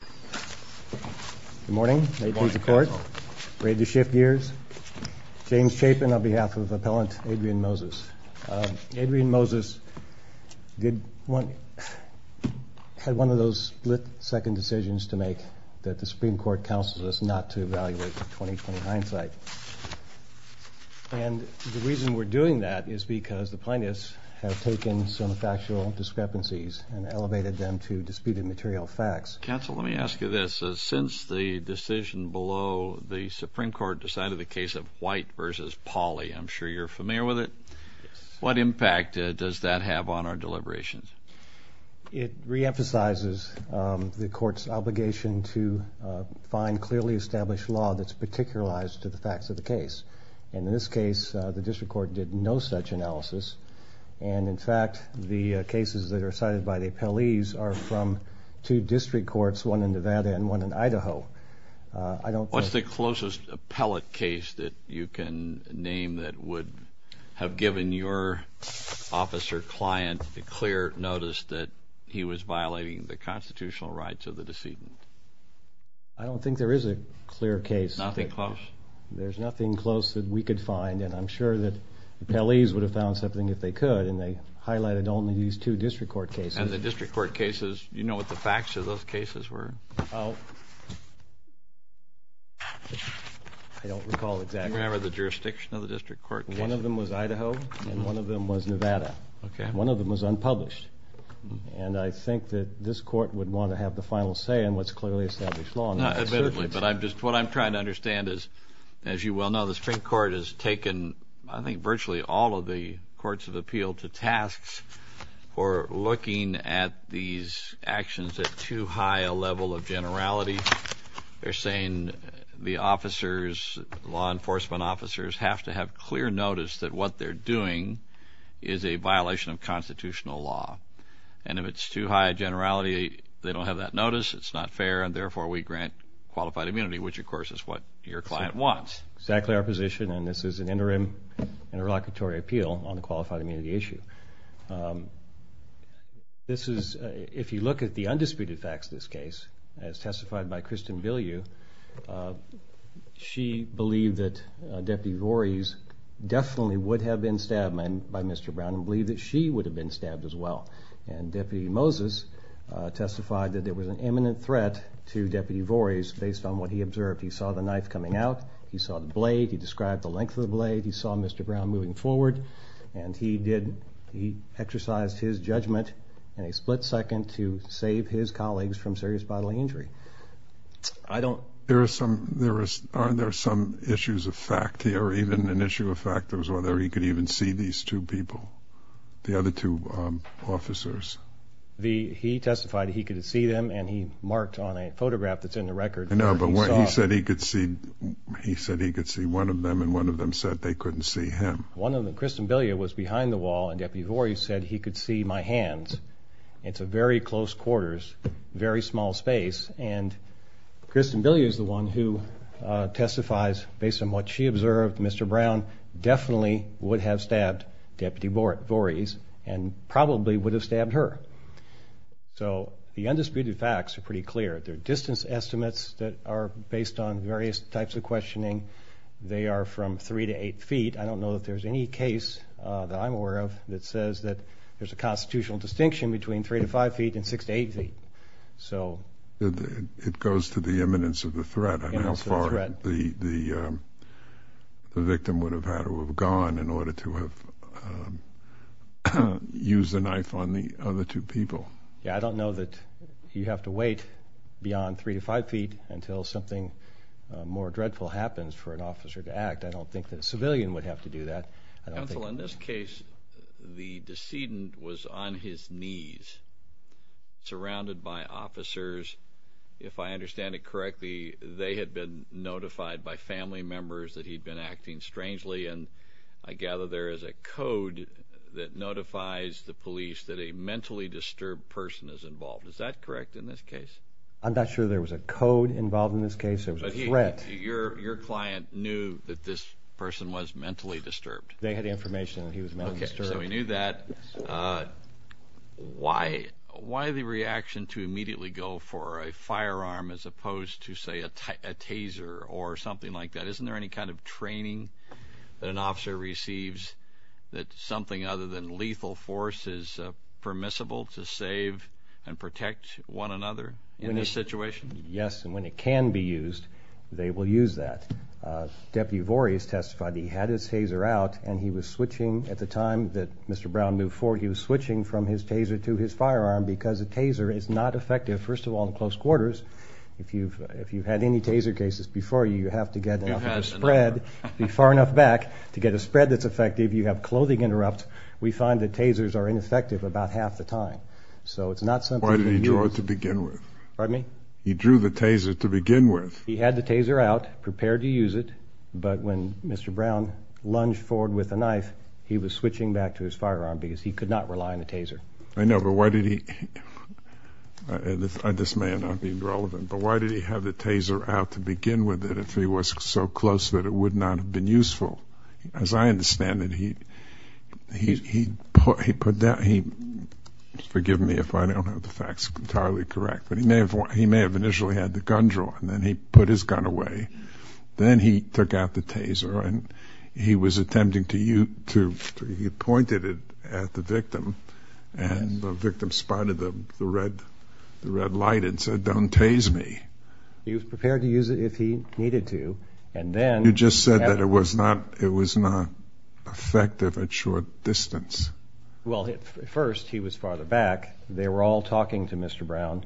Good morning. May it please the court. Ready to shift gears. James Chapin on behalf of Appellant Adrian Moses. Adrian Moses had one of those split-second decisions to make that the Supreme Court counseled us not to evaluate the 2020 hindsight. And the reason we're doing that is because the plaintiffs have taken some factual discrepancies and elevated them to disputed material facts. Counsel, let me ask you this. Since the decision below, the Supreme Court decided the case of White v. Pauley. I'm sure you're familiar with it. What impact does that have on our deliberations? It reemphasizes the court's obligation to find clearly established law that's particularized to the facts of the case. And in this case, the district court did no such analysis. And in fact, the cases that are cited by the appellees are from two district courts, one in Nevada and one in Idaho. What's the closest appellate case that you can name that would have given your officer client a clear notice that he was violating the constitutional rights of the decedent? I don't think there is a clear case. Nothing close? There's nothing close that we could find. And I'm sure that the appellees would have found something if they could, and they highlighted only these two district court cases. And the district court cases, do you know what the facts of those cases were? I don't recall exactly. Do you remember the jurisdiction of the district court cases? One of them was Idaho, and one of them was Nevada. Okay. One of them was unpublished. And I think that this court would want to have the final say in what's clearly established law. Not admittedly, but I'm just, what I'm trying to understand is, as you well know, the Supreme Court has taken, I think, virtually all of the courts of appeal to tasks for looking at these actions at too high a level of generality. They're saying the officers, law enforcement officers, have to have clear notice that what they're doing is a violation of constitutional law. And if it's too high a generality, they don't have that notice, it's not fair, and therefore we grant qualified immunity, which of course is what your client wants. Exactly our position, and this is an interim interlocutory appeal on the qualified immunity issue. This is, if you look at the undisputed facts of this case, as testified by Kristen Bilyeu, she believed that Deputy Vores definitely would have been stabbed by Mr. Brown and believed that she would have been stabbed as well. And Deputy Moses testified that there was an imminent threat to Deputy Vores based on what he observed. He saw the knife coming out, he saw the blade, he described the length of the blade, he saw Mr. Brown moving forward, and he exercised his judgment in a split second to save his colleagues from serious bodily injury. Aren't there some issues of fact here, even an issue of fact, whether he could even see these people, the other two officers? He testified he could see them, and he marked on a photograph that's in the record. No, but he said he could see one of them, and one of them said they couldn't see him. Kristen Bilyeu was behind the wall, and Deputy Vores said he could see my hands. It's a very close quarters, very small space, and Kristen Bilyeu is the one who testifies, based on what she observed, Mr. Brown definitely would have stabbed Deputy Vores and probably would have stabbed her. So the undisputed facts are pretty clear. Their distance estimates that are based on various types of questioning, they are from 3 to 8 feet. I don't know if there's any case that I'm aware of that says that there's a constitutional distinction between 3 to 5 feet and 6 to 8 feet. It goes to the imminence of the threat and how far the victim would have had to have gone in order to have used the knife on the other two people. Yeah, I don't know that you have to wait beyond 3 to 5 feet until something more dreadful happens for an officer to act. I don't think that a civilian would have to do that. Counsel, in this case, the decedent was on his knees, surrounded by officers. If I understand it correctly, they had been notified by family members that he'd been acting strangely, and I gather there is a code that notifies the police that a mentally disturbed person is involved. Is that correct in this case? I'm not sure there was a code involved in this case. It was a threat. Your client knew that this person was mentally disturbed. They had information that he was mentally disturbed. Okay, so he knew that. Why the reaction to immediately go for a firearm as opposed to, say, a taser or something like that? Isn't there any kind of training that an officer receives that something other than lethal force is permissible to save and protect one another in this situation? Yes, and when it can be used, they will use that. Deputy Vorious testified he had his taser out, and he was switching at the time that Mr. Brown moved forward, he was switching from his taser to his firearm because a taser is not effective, first of all, in close quarters. If you've had any taser cases before, you have to get enough of a spread, be far enough back, to get a spread that's effective. You have clothing interrupts. We find that tasers are ineffective about half the time, so it's not something you can use. Why did he draw it to begin with? Pardon me? He drew the taser to begin with. He had the taser out, prepared to use it, but when Mr. Brown lunged forward with a knife, he was switching back to his firearm because he could not rely on the taser. I know, but why did he, and this may not be relevant, but why did he have the taser out to begin with if he was so close that it would not have been useful? As I understand it, he put down, forgive me if I don't have the facts entirely correct, but he may have initially had the gun drawn, then he put his gun away, then he took out the taser, and he was attempting to, he pointed it at the victim, and the victim spotted the red light and said, don't tase me. He was prepared to use it if he needed to, and then... You just said that it was not effective at short distance. Well, at first he was farther back. They were all talking to Mr. Brown.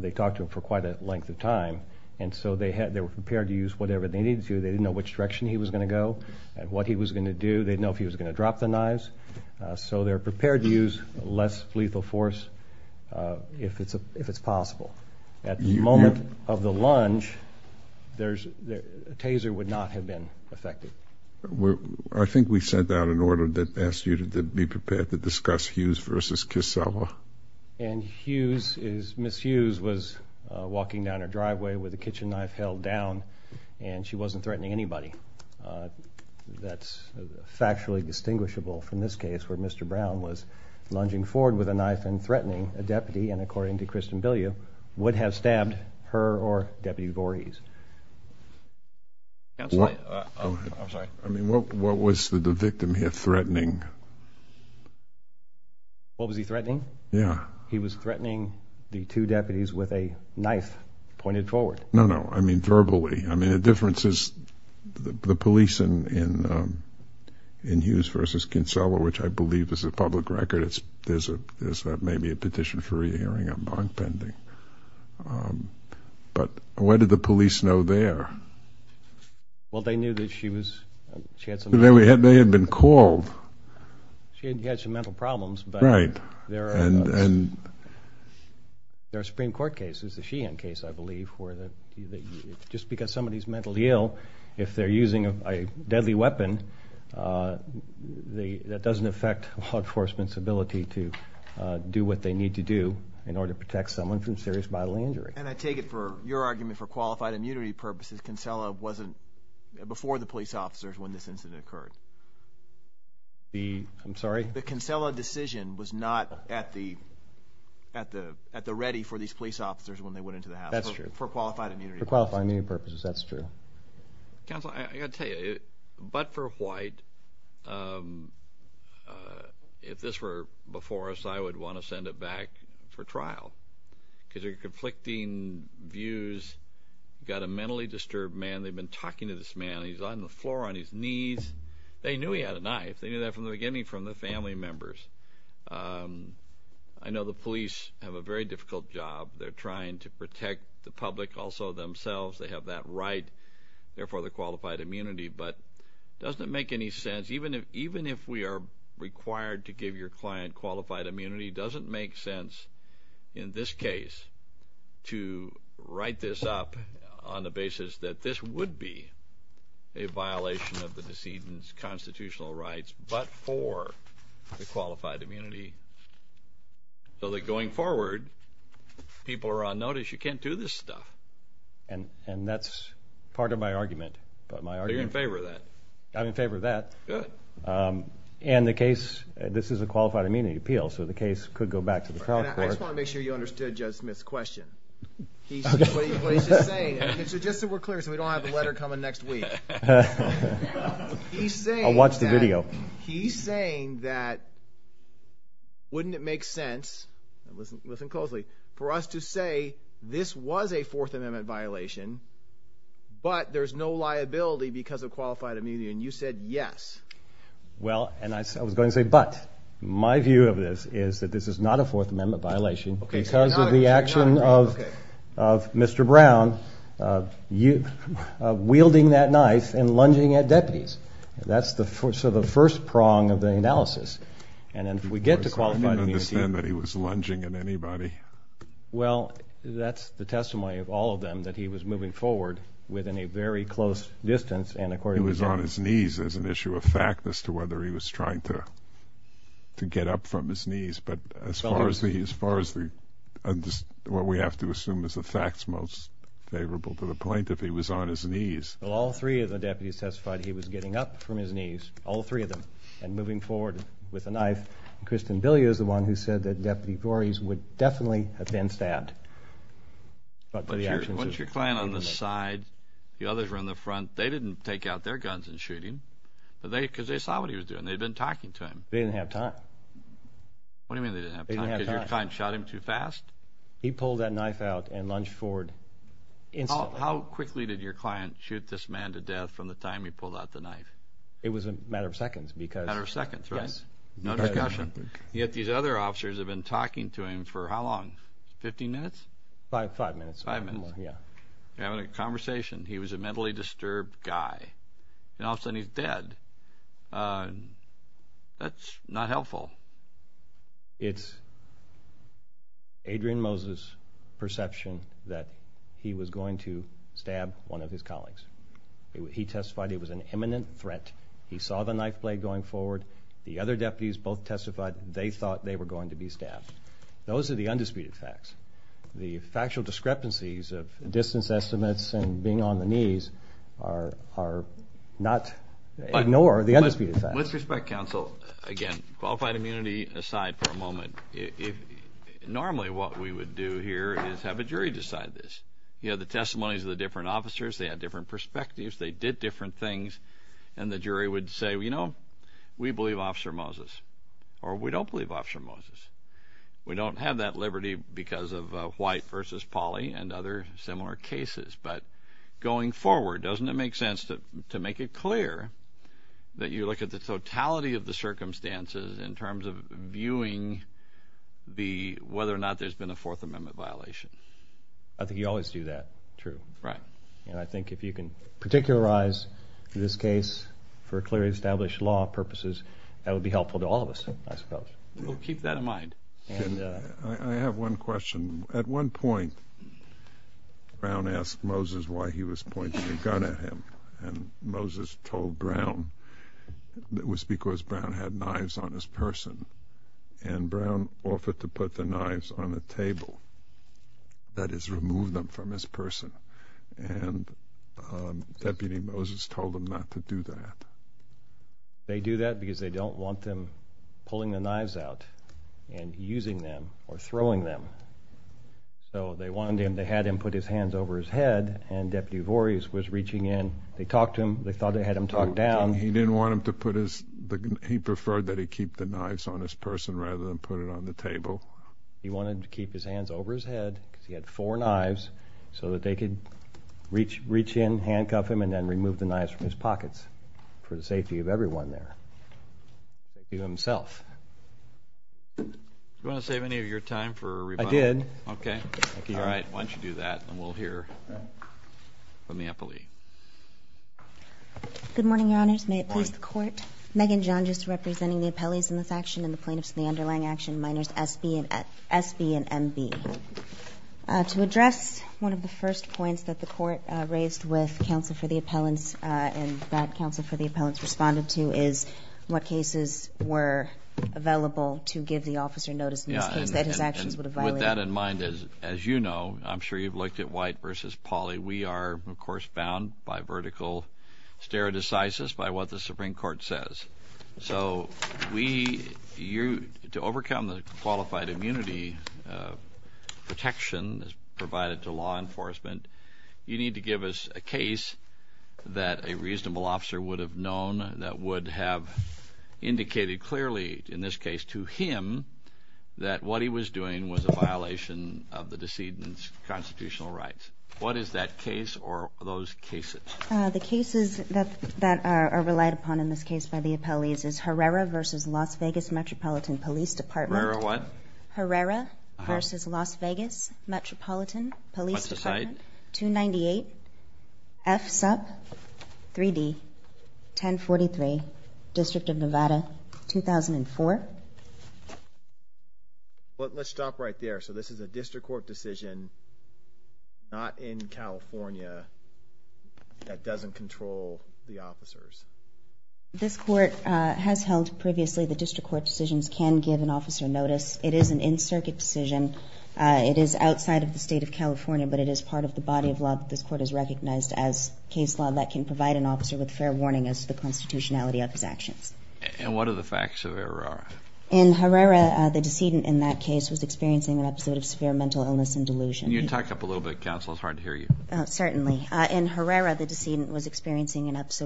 They talked to him for quite a length of time, and so they were prepared to use whatever they needed to. They didn't know which direction he was going to go and what he was going to do. They didn't know if he was going to drop the knives, so they're prepared to use less lethal force if it's possible. At the moment of the lunge, the taser would not have been effective. I think we sent out an order that asked you to be prepared to discuss Hughes versus Kissela. And Hughes is, Ms. Hughes was walking down her driveway with a kitchen knife held down, and she wasn't threatening anybody. That's factually distinguishable from this case where Mr. Brown was lunging forward with a knife and threatening a deputy, and according to Kristen Voorhees. I'm sorry. I mean, what was the victim here threatening? What was he threatening? Yeah. He was threatening the two deputies with a knife pointed forward. No, no. I mean, verbally. I mean, the difference is the police in Hughes versus Kissela, which I believe is a public record. There's maybe a petition for re-hearing on bond pending. Um, but why did the police know there? Well, they knew that she was, she had some... They had been called. She had some mental problems, but there are Supreme Court cases, the Sheehan case, I believe, where just because somebody's mentally ill, if they're using a deadly weapon, that doesn't affect law enforcement's ability to do what they need to do in order to protect someone from serious bodily injury. And I take it for your argument, for qualified immunity purposes, Kissela wasn't before the police officers when this incident occurred. The, I'm sorry? The Kissela decision was not at the, at the, at the ready for these police officers when they went into the house. That's true. For qualified immunity purposes. For qualified immunity purposes, that's true. Counsel, I gotta tell you, but for White, um, uh, if this were before us, I would want to send it back for trial, because they're conflicting views. You've got a mentally disturbed man. They've been talking to this man. He's on the floor on his knees. They knew he had a knife. They knew that from the beginning from the family members. Um, I know the police have a very difficult job. They're trying to protect the public, also themselves. They have that right, therefore the qualified immunity, but doesn't make any sense. Even if, even if we are required to give your client qualified immunity, doesn't make sense in this case to write this up on the basis that this would be a violation of the decedent's constitutional rights, but for the qualified immunity. So that going forward, people are on notice, you can't do this stuff. And, and that's part of my argument. But my argument. You're in favor of that. I'm in favor of that. Good. Um, and the case, this is a qualified immunity appeal, so the case could go back to the trial court. I just want to make sure you understood Judge Smith's question. What he's just saying, just so we're clear, so we don't have the letter coming next week. He's saying. I'll watch the video. He's saying that, wouldn't it make sense, listen, listen closely, for us to say this was a Fourth Amendment violation, but there's no liability because of qualified immunity. And you said yes. Well, and I was going to say, but my view of this is that this is not a Fourth Amendment violation because of the action of, of Mr. Brown, uh, you, wielding that knife and lunging at deputies. That's the, so the first prong of the analysis. And then we get to qualified immunity. I didn't understand that he was lunging at anybody. Well, that's the testimony of all of them, that he was moving forward within a very close distance. He was on his knees as an issue of fact as to whether he was trying to, to get up from his knees. But as far as the, as far as the, what we have to assume is the facts most favorable to the point, if he was on his knees. Well, all three of the deputies testified he was getting up from his knees, all three of them, and moving forward with a knife. And Kristen Billy is the one who said that Deputy Gores would definitely have been stabbed. But for the actions. Once your client on the side, the others were in the front, they didn't take out their guns and shoot him. But they, because they saw what he was doing. They'd been talking to him. They didn't have time. What do you mean they didn't have time? Because your client shot him too fast? He pulled that knife out and lunged forward instantly. How quickly did your client shoot this man to death from the time he pulled out the knife? It was a matter of seconds because. Matter of seconds, right? Yes. No discussion. Yet these other officers have been talking to him for how long? 15 minutes? Five, five minutes. Five minutes. Yeah. They're having a conversation. He was a mentally disturbed guy. And all of a sudden he's dead. That's not helpful. It's Adrian Moses' perception that he was going to stab one of his colleagues. He testified it was an imminent threat. He saw the knife blade going forward. The other deputies both testified they thought they were going to be stabbed. Those are the undisputed facts. The factual discrepancies of distance estimates and being on the knees are not, ignore the undisputed facts. With respect counsel, again, qualified immunity aside for a moment. Normally what we would do here is have a jury decide this. You know, the testimonies of the different officers, they had different perspectives, they did different things. And the jury would say, you know, we believe Officer Moses or we don't believe Officer Moses. We don't have that liberty because of White versus Polly and other similar cases. But going forward, doesn't it make sense to make it clear that you look at the totality of the circumstances in terms of viewing whether or not there's been a Fourth Amendment violation? I think you always do that, true. Right. And I think if you can particularize in this case for clearly established law purposes, that would be helpful to all of us, I suppose. We'll keep that in mind. I have one question. At one point, Brown asked Moses why he was pointing a gun at him. And Moses told Brown it was because Brown had knives on his person. And Brown offered to put the knives on the table, that is remove them from his person. And Deputy Moses told him not to do that. They do that because they don't want them pulling the knives out and using them or throwing them. So they wanted him, they had him put his hands over his head. And Deputy Vorhees was reaching in. They talked to him. They thought they had him turned down. He didn't want him to put his, he preferred that he keep the knives on his person rather than put it on the table. He wanted to keep his hands over his head because he had four knives so that they could reach in, handcuff him, and then remove the knives from his pockets for the safety of everyone there, even himself. Do you want to save any of your time for a rebuttal? I did. Okay. All right. Why don't you do that and we'll hear from the appellee. Good morning, your honors. May it please the court. Megan John, just representing the appellees in this action and the plaintiffs in the underlying action, minors SB and MB. To address one of the first points that the court raised with counsel for the appellants and that counsel for the appellants responded to is what cases were available to give the officer notice in this case that his actions would have violated. With that in mind, as you know, I'm sure you've looked at White versus Pauly. We are, of course, bound by vertical stare decisis by what the Supreme Court says. So we, you, to overcome the qualified immunity protection that's provided to law enforcement, you need to give us a case that a reasonable officer would have known that would have indicated clearly in this case to him that what he was doing was a violation of the decedent's constitutional rights. What is that case or those cases? The cases that that are relied upon in this case by the appellees is Herrera versus Las Vegas Metropolitan Police Department. Herrera what? Herrera versus Las Vegas Metropolitan Police Department 298 F Sup 3D 1043 District of Nevada 2004. Let's stop right there. So this is a district court decision not in California that doesn't control the officers. This court has held previously the district court decisions can give an officer notice. It is an in circuit decision. It is outside of the state of California, but it is part of the body of law that this court has recognized as case law that can provide an officer with fair warning as to the constitutionality of his actions. And what are the facts of Herrera? In Herrera, the decedent in that case was experiencing an episode of severe mental illness and delusion. Can you talk up a episode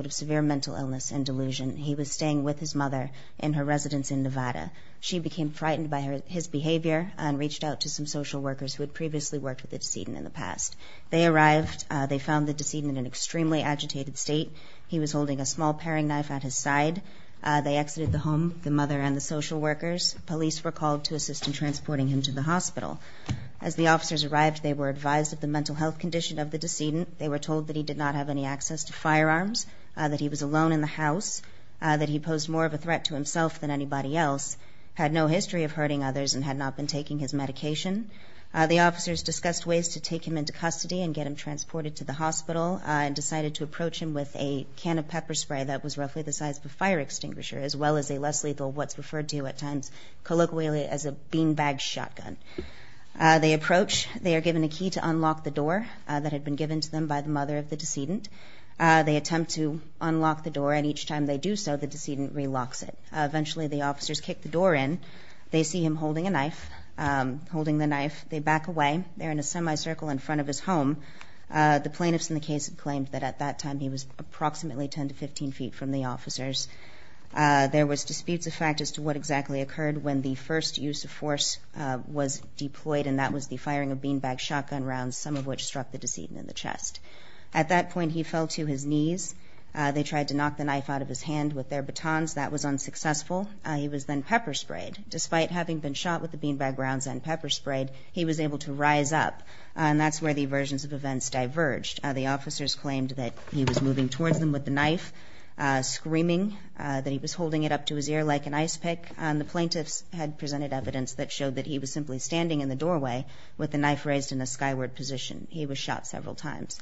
of severe mental illness and delusion? He was staying with his mother in her residence in Nevada. She became frightened by his behavior and reached out to some social workers who had previously worked with the decedent in the past. They arrived. They found the decedent in an extremely agitated state. He was holding a small paring knife at his side. They exited the home, the mother and the social workers. Police were called to assist in transporting him to the hospital. As the officers arrived, they were advised of the mental health condition of the decedent. They were told that he did not have any access to firearms, that he was alone in the house, that he posed more of a threat to himself than anybody else, had no history of hurting others, and had not been taking his medication. The officers discussed ways to take him into custody and get him transported to the hospital and decided to approach him with a can of pepper spray that was roughly the size of a fire extinguisher, as well as a less lethal, what's referred to at times colloquially as a beanbag shotgun. They approach. They are given a key to unlock the door that had been given to them by the mother of the decedent. They attempt to unlock the door, and each time they do so, the decedent relocks it. Eventually the officers kick the door in. They see him holding a knife, holding the knife. They back away. They're in a semi-circle in front of his home. The plaintiffs in the case had claimed that at that time he was approximately 10 to 15 feet from the officers. There was disputes of fact as to what exactly occurred when the first use of force was deployed, and that was the firing of At that point he fell to his knees. They tried to knock the knife out of his hand with their batons. That was unsuccessful. He was then pepper sprayed. Despite having been shot with the beanbag rounds and pepper sprayed, he was able to rise up, and that's where the versions of events diverged. The officers claimed that he was moving towards them with the knife, screaming that he was holding it up to his ear like an ice pick, and the plaintiffs had presented evidence that showed that he was simply standing in the doorway with the knife raised in a skyward position. He was shot several times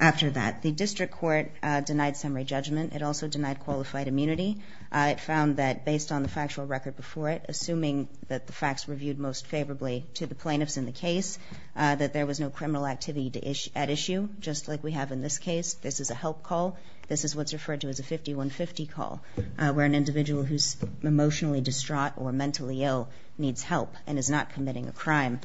after that. The district court denied summary judgment. It also denied qualified immunity. It found that based on the factual record before it, assuming that the facts were viewed most favorably to the plaintiffs in the case, that there was no criminal activity at issue, just like we have in this case. This is a help call. This is what's referred to as a 5150 call, where an individual who's emotionally distraught or mentally ill needs help and is not committing a crime.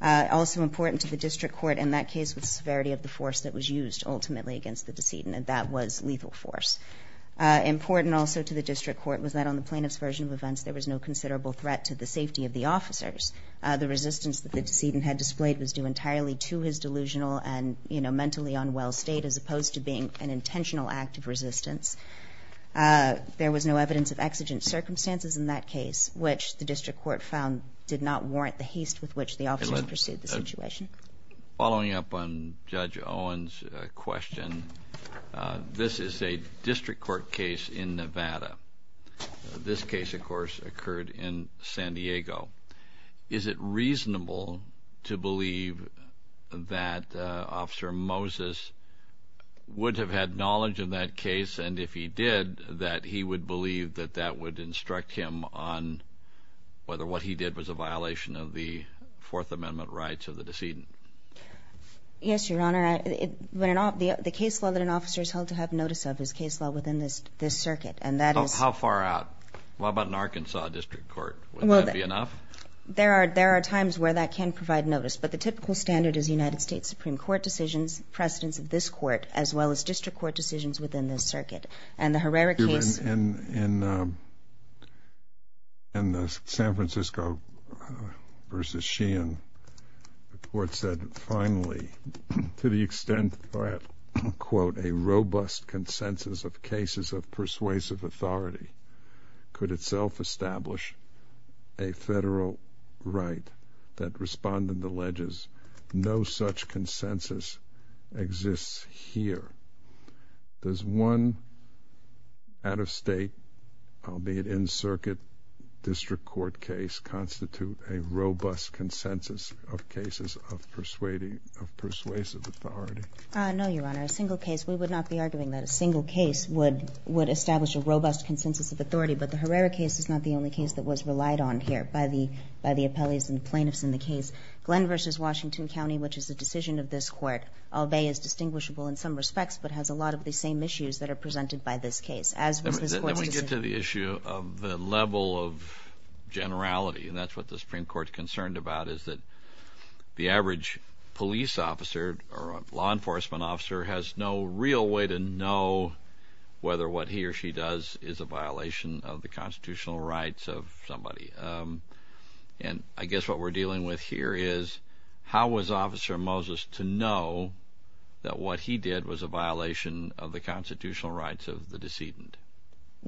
Also important to the district court in that case was severity of the force that was used ultimately against the decedent, and that was lethal force. Important also to the district court was that on the plaintiff's version of events, there was no considerable threat to the safety of the officers. The resistance that the decedent had displayed was due entirely to his delusional and, you know, mentally unwell state as opposed to being an intentional act of resistance. There was no evidence of exigent circumstances in that case, which the district court found did not warrant the haste with which the officers pursued the situation. Following up on Judge Owen's question, this is a district court case in Nevada. This case, of course, occurred in San Diego. Is it reasonable to believe that Officer Moses would have had knowledge of that case, and if he did, that he would believe that that would instruct him on whether what he did was a violation of the Fourth Amendment rights of the decedent? Yes, Your Honor. The case law that an officer is held to have notice of is case law within this circuit, and that is... How far out? How about an Arkansas district court? Would that be enough? There are times where that can provide notice, but the typical standard is United States Supreme Court decisions, precedence of this court, as well as district court decisions within this circuit. In the San Francisco v. Sheehan, the court said, finally, to the extent that, quote, a robust consensus of cases of persuasive authority could itself establish a federal right that respond in the ledges, no such consensus exists here. Does one out-of-state, albeit in circuit, district court case constitute a robust consensus of cases of persuasive authority? No, Your Honor. A single case... We would not be arguing that a single case would establish a robust consensus of authority, but the Herrera case is not the only case that was relied on here by the appellees and plaintiffs in the case. Glenn v. Washington County, which is the decision of this court, albeit is distinguishable in some respects, but has a lot of the same issues that are presented by this case, as was this court's decision... Let me get to the issue of the level of generality, and that's what the Supreme Court's concerned about, is that the average police officer or law enforcement officer has no real way to know whether what he or she does is a violation. And I guess what we're dealing with here is, how was Officer Moses to know that what he did was a violation of the constitutional rights of the decedent?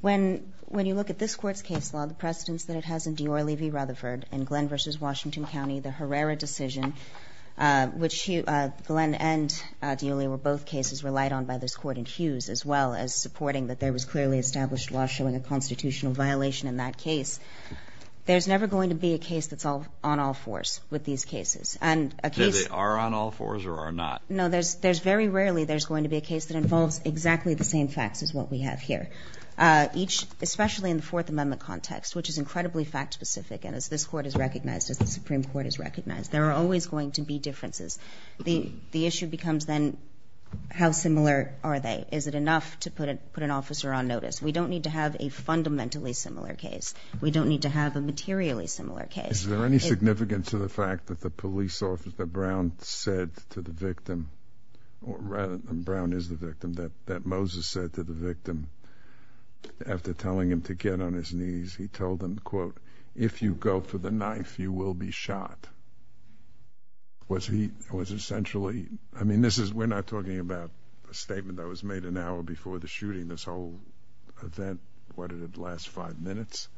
When you look at this court's case law, the precedence that it has in Dior v. Rutherford and Glenn v. Washington County, the Herrera decision, which Glenn and Dior were both cases relied on by this court and Hughes, as well as supporting that there was clearly established showing a constitutional violation in that case, there's never going to be a case that's on all fours with these cases. And a case... Are they on all fours or are not? No, there's very rarely there's going to be a case that involves exactly the same facts as what we have here. Each, especially in the Fourth Amendment context, which is incredibly fact-specific, and as this court is recognized, as the Supreme Court is recognized, there are always going to be differences. The issue becomes then, how similar are they? Is it enough to put an officer on notice? We don't need to have a fundamentally similar case. We don't need to have a materially similar case. Is there any significance to the fact that the police officer Brown said to the victim, or rather than Brown is the victim, that Moses said to the victim after telling him to get on his knees, he told him, quote, if you go for the knife, you will be shot. Was he, was essentially, I mean, this is, we're not talking about a statement that was made an last five minutes.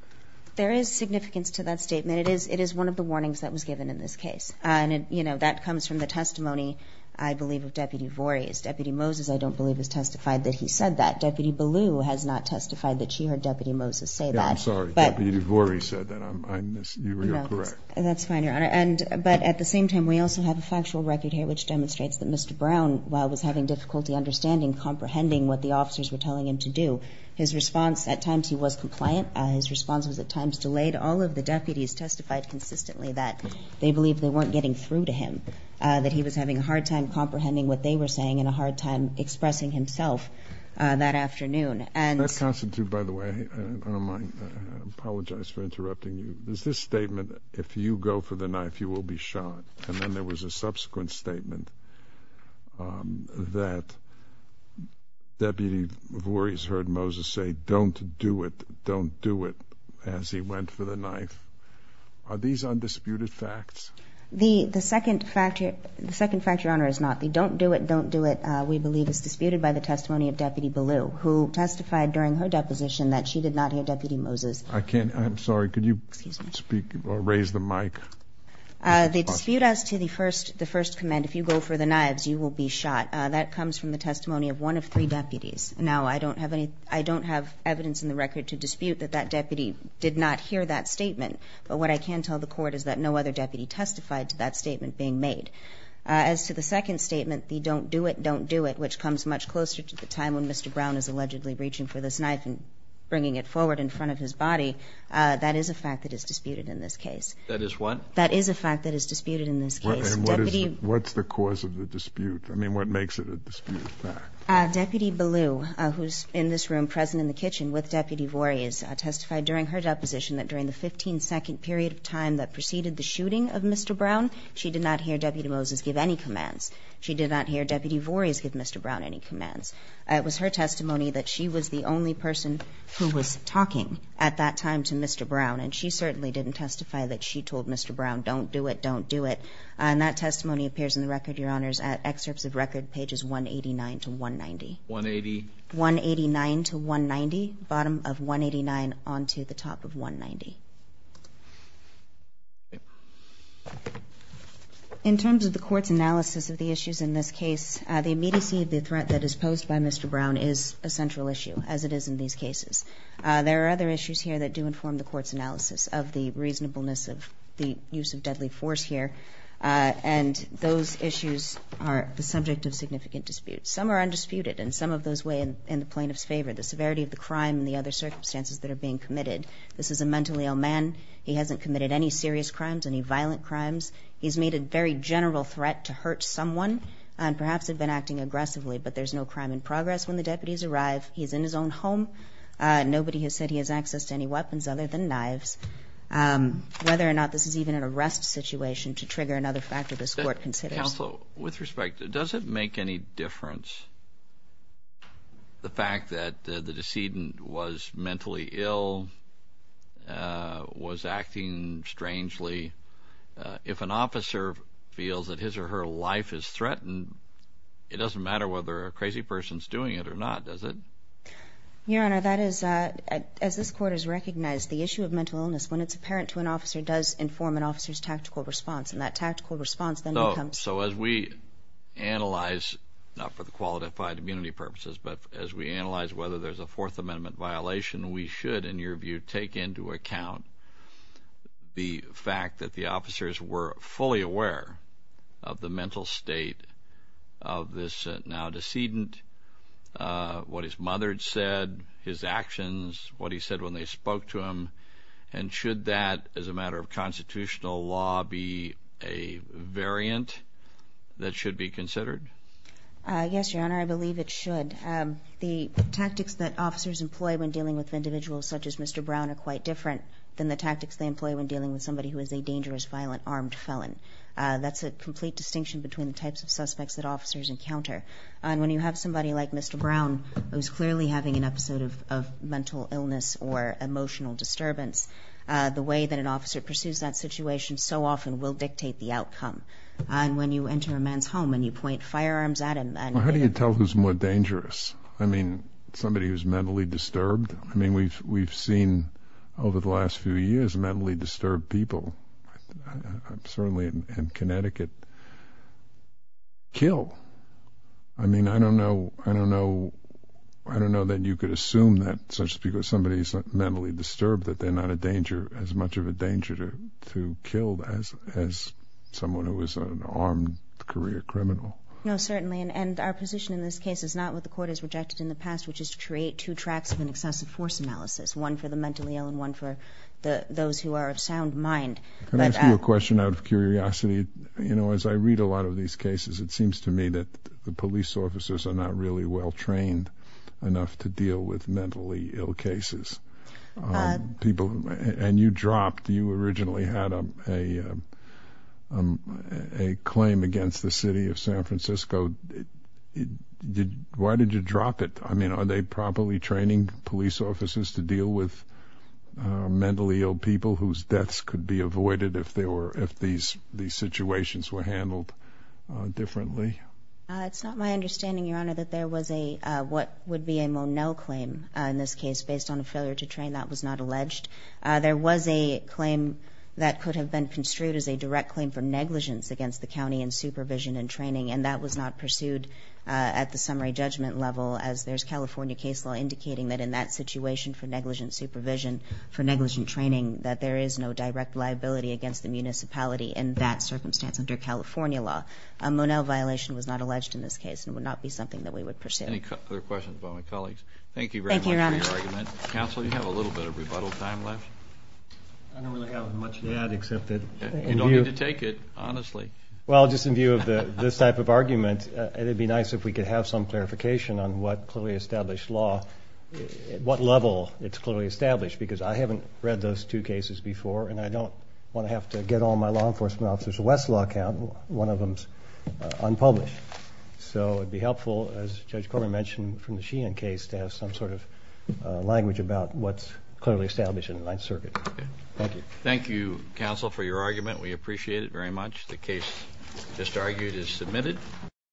There is significance to that statement. It is, it is one of the warnings that was given in this case. And, you know, that comes from the testimony, I believe, of Deputy Voorhees. Deputy Moses, I don't believe, has testified that he said that. Deputy Ballew has not testified that she heard Deputy Moses say that. Yeah, I'm sorry, Deputy Voorhees said that. You are correct. That's fine, Your Honor. And, but at the same time, we also have a factual record here, which demonstrates that Mr. Brown, while was having difficulty understanding, comprehending what the officers were telling him to do, his response, at times he was compliant, his response was at times delayed. All of the deputies testified consistently that they believed they weren't getting through to him, that he was having a hard time comprehending what they were saying and a hard time expressing himself that afternoon. And that constitutes, by the way, I don't mind, I apologize for interrupting you. There's this statement, if you go for the knife, you will be shot. And then there was a subsequent statement that Deputy Voorhees heard Moses say, don't do it, don't do it, as he went for the knife. Are these undisputed facts? The second fact, Your Honor, is not. The don't do it, don't do it, we believe is disputed by the testimony of Deputy Ballew, who testified during her deposition that she did not hear Deputy Moses. I can't, I'm sorry, could you speak or raise the mic? The dispute as to the first, the first comment, if you go for the knives, you will be shot, that comes from the testimony of one of three deputies. Now, I don't have any, I don't have evidence in the record to dispute that that deputy did not hear that statement, but what I can tell the court is that no other deputy testified to that statement being made. As to the second statement, the don't do it, don't do it, which comes much closer to the time when Mr. Brown is allegedly reaching for this knife and bringing it forward in front of his body, that is a fact that is disputed in this case. And what is, what's the cause of the dispute? I mean, what makes it a dispute? Deputy Ballew, who's in this room present in the kitchen with Deputy Voorhees, testified during her deposition that during the 15 second period of time that preceded the shooting of Mr. Brown, she did not hear Deputy Moses give any commands. She did not hear Deputy Voorhees give Mr. Brown any commands. It was her testimony that she was the only person who was talking at that time to Mr. Brown, and she certainly didn't testify that she told Mr. Brown, don't do it, don't do it. And that testimony appears in the record, your honors, at excerpts of record pages 189 to 190. 189 to 190, bottom of 189 onto the top of 190. In terms of the court's analysis of the issues in this case, the immediacy of the threat that is posed by Mr. Brown is a central issue, as it is in these cases. There are other issues here that do inform the court's analysis of the reasonableness of the use of deadly force here, and those issues are the subject of significant disputes. Some are undisputed, and some of those weigh in the plaintiff's favor, the severity of the crime and the other circumstances that are being committed. This is a mentally ill man. He hasn't committed any serious crimes, any violent crimes. He's made a very general threat to hurt someone, and perhaps had been acting aggressively, but there's no crime in progress. When the deputies arrive, he's in his own home. Nobody has said he has access to any weapons other than knives. Whether or not this is even an arrest situation to trigger another factor, this court considers. Counsel, with respect, does it make any difference the fact that the decedent was mentally ill, was acting strangely? If an officer feels that his or her life is threatened, it doesn't matter whether a crazy person is doing it or not, does it? Your Honor, as this court has recognized, the issue of mental illness, when it's apparent to an officer, does inform an officer's tactical response, and that tactical response then becomes... So as we analyze, not for the qualified immunity purposes, but as we analyze whether there's a Fourth Amendment violation, we should, in your view, take into aware of the mental state of this now decedent, what his mother had said, his actions, what he said when they spoke to him, and should that, as a matter of constitutional law, be a variant that should be considered? Yes, Your Honor, I believe it should. The tactics that officers employ when dealing with individuals such as Mr. Brown are quite different than the tactics they employ. That's a complete distinction between the types of suspects that officers encounter. And when you have somebody like Mr. Brown, who's clearly having an episode of mental illness or emotional disturbance, the way that an officer pursues that situation so often will dictate the outcome. And when you enter a man's home and you point firearms at him... How do you tell who's more dangerous? I mean, somebody who's mentally disturbed? I mean, we've seen over the last few years mentally disturbed people, certainly in Connecticut, kill. I mean, I don't know that you could assume that just because somebody is mentally disturbed that they're not as much of a danger to kill as someone who is an armed career criminal. No, certainly. And our position in this case is not what the Court has rejected in the past, which is to create two tracks of an those who are of sound mind. Can I ask you a question out of curiosity? You know, as I read a lot of these cases, it seems to me that the police officers are not really well trained enough to deal with mentally ill cases. And you dropped, you originally had a claim against the city of San Francisco. Why did you drop it? I mean, are they properly training police officers to deal with mentally ill people whose deaths could be avoided if these situations were handled differently? It's not my understanding, Your Honor, that there was a, what would be a Monel claim in this case, based on a failure to train. That was not alleged. There was a claim that could have been construed as a direct claim for negligence against the county in supervision and training, and that was not pursued at the summary judgment level, as there's California case law indicating that in that situation for negligent supervision, for negligent training, that there is no direct liability against the municipality in that circumstance under California law. A Monel violation was not alleged in this case and would not be something that we would pursue. Any other questions by my colleagues? Thank you very much for your argument. Counsel, you have a little bit of rebuttal time left. I don't really have much to add, except that... You don't need to take it, honestly. Well, just in view of this type of argument, it'd be nice if we could have some clarification on what clearly established law, at what level it's clearly established, because I haven't read those two cases before, and I don't want to have to get all my law enforcement officers a Westlaw account, one of them's unpublished. So it'd be helpful, as Judge Corman mentioned from the Sheehan case, to have some sort of language about what's clearly established in the Ninth Circuit. Thank you. Thank you, Counsel, for your argument. We appreciate it very much. The case just argued is submitted.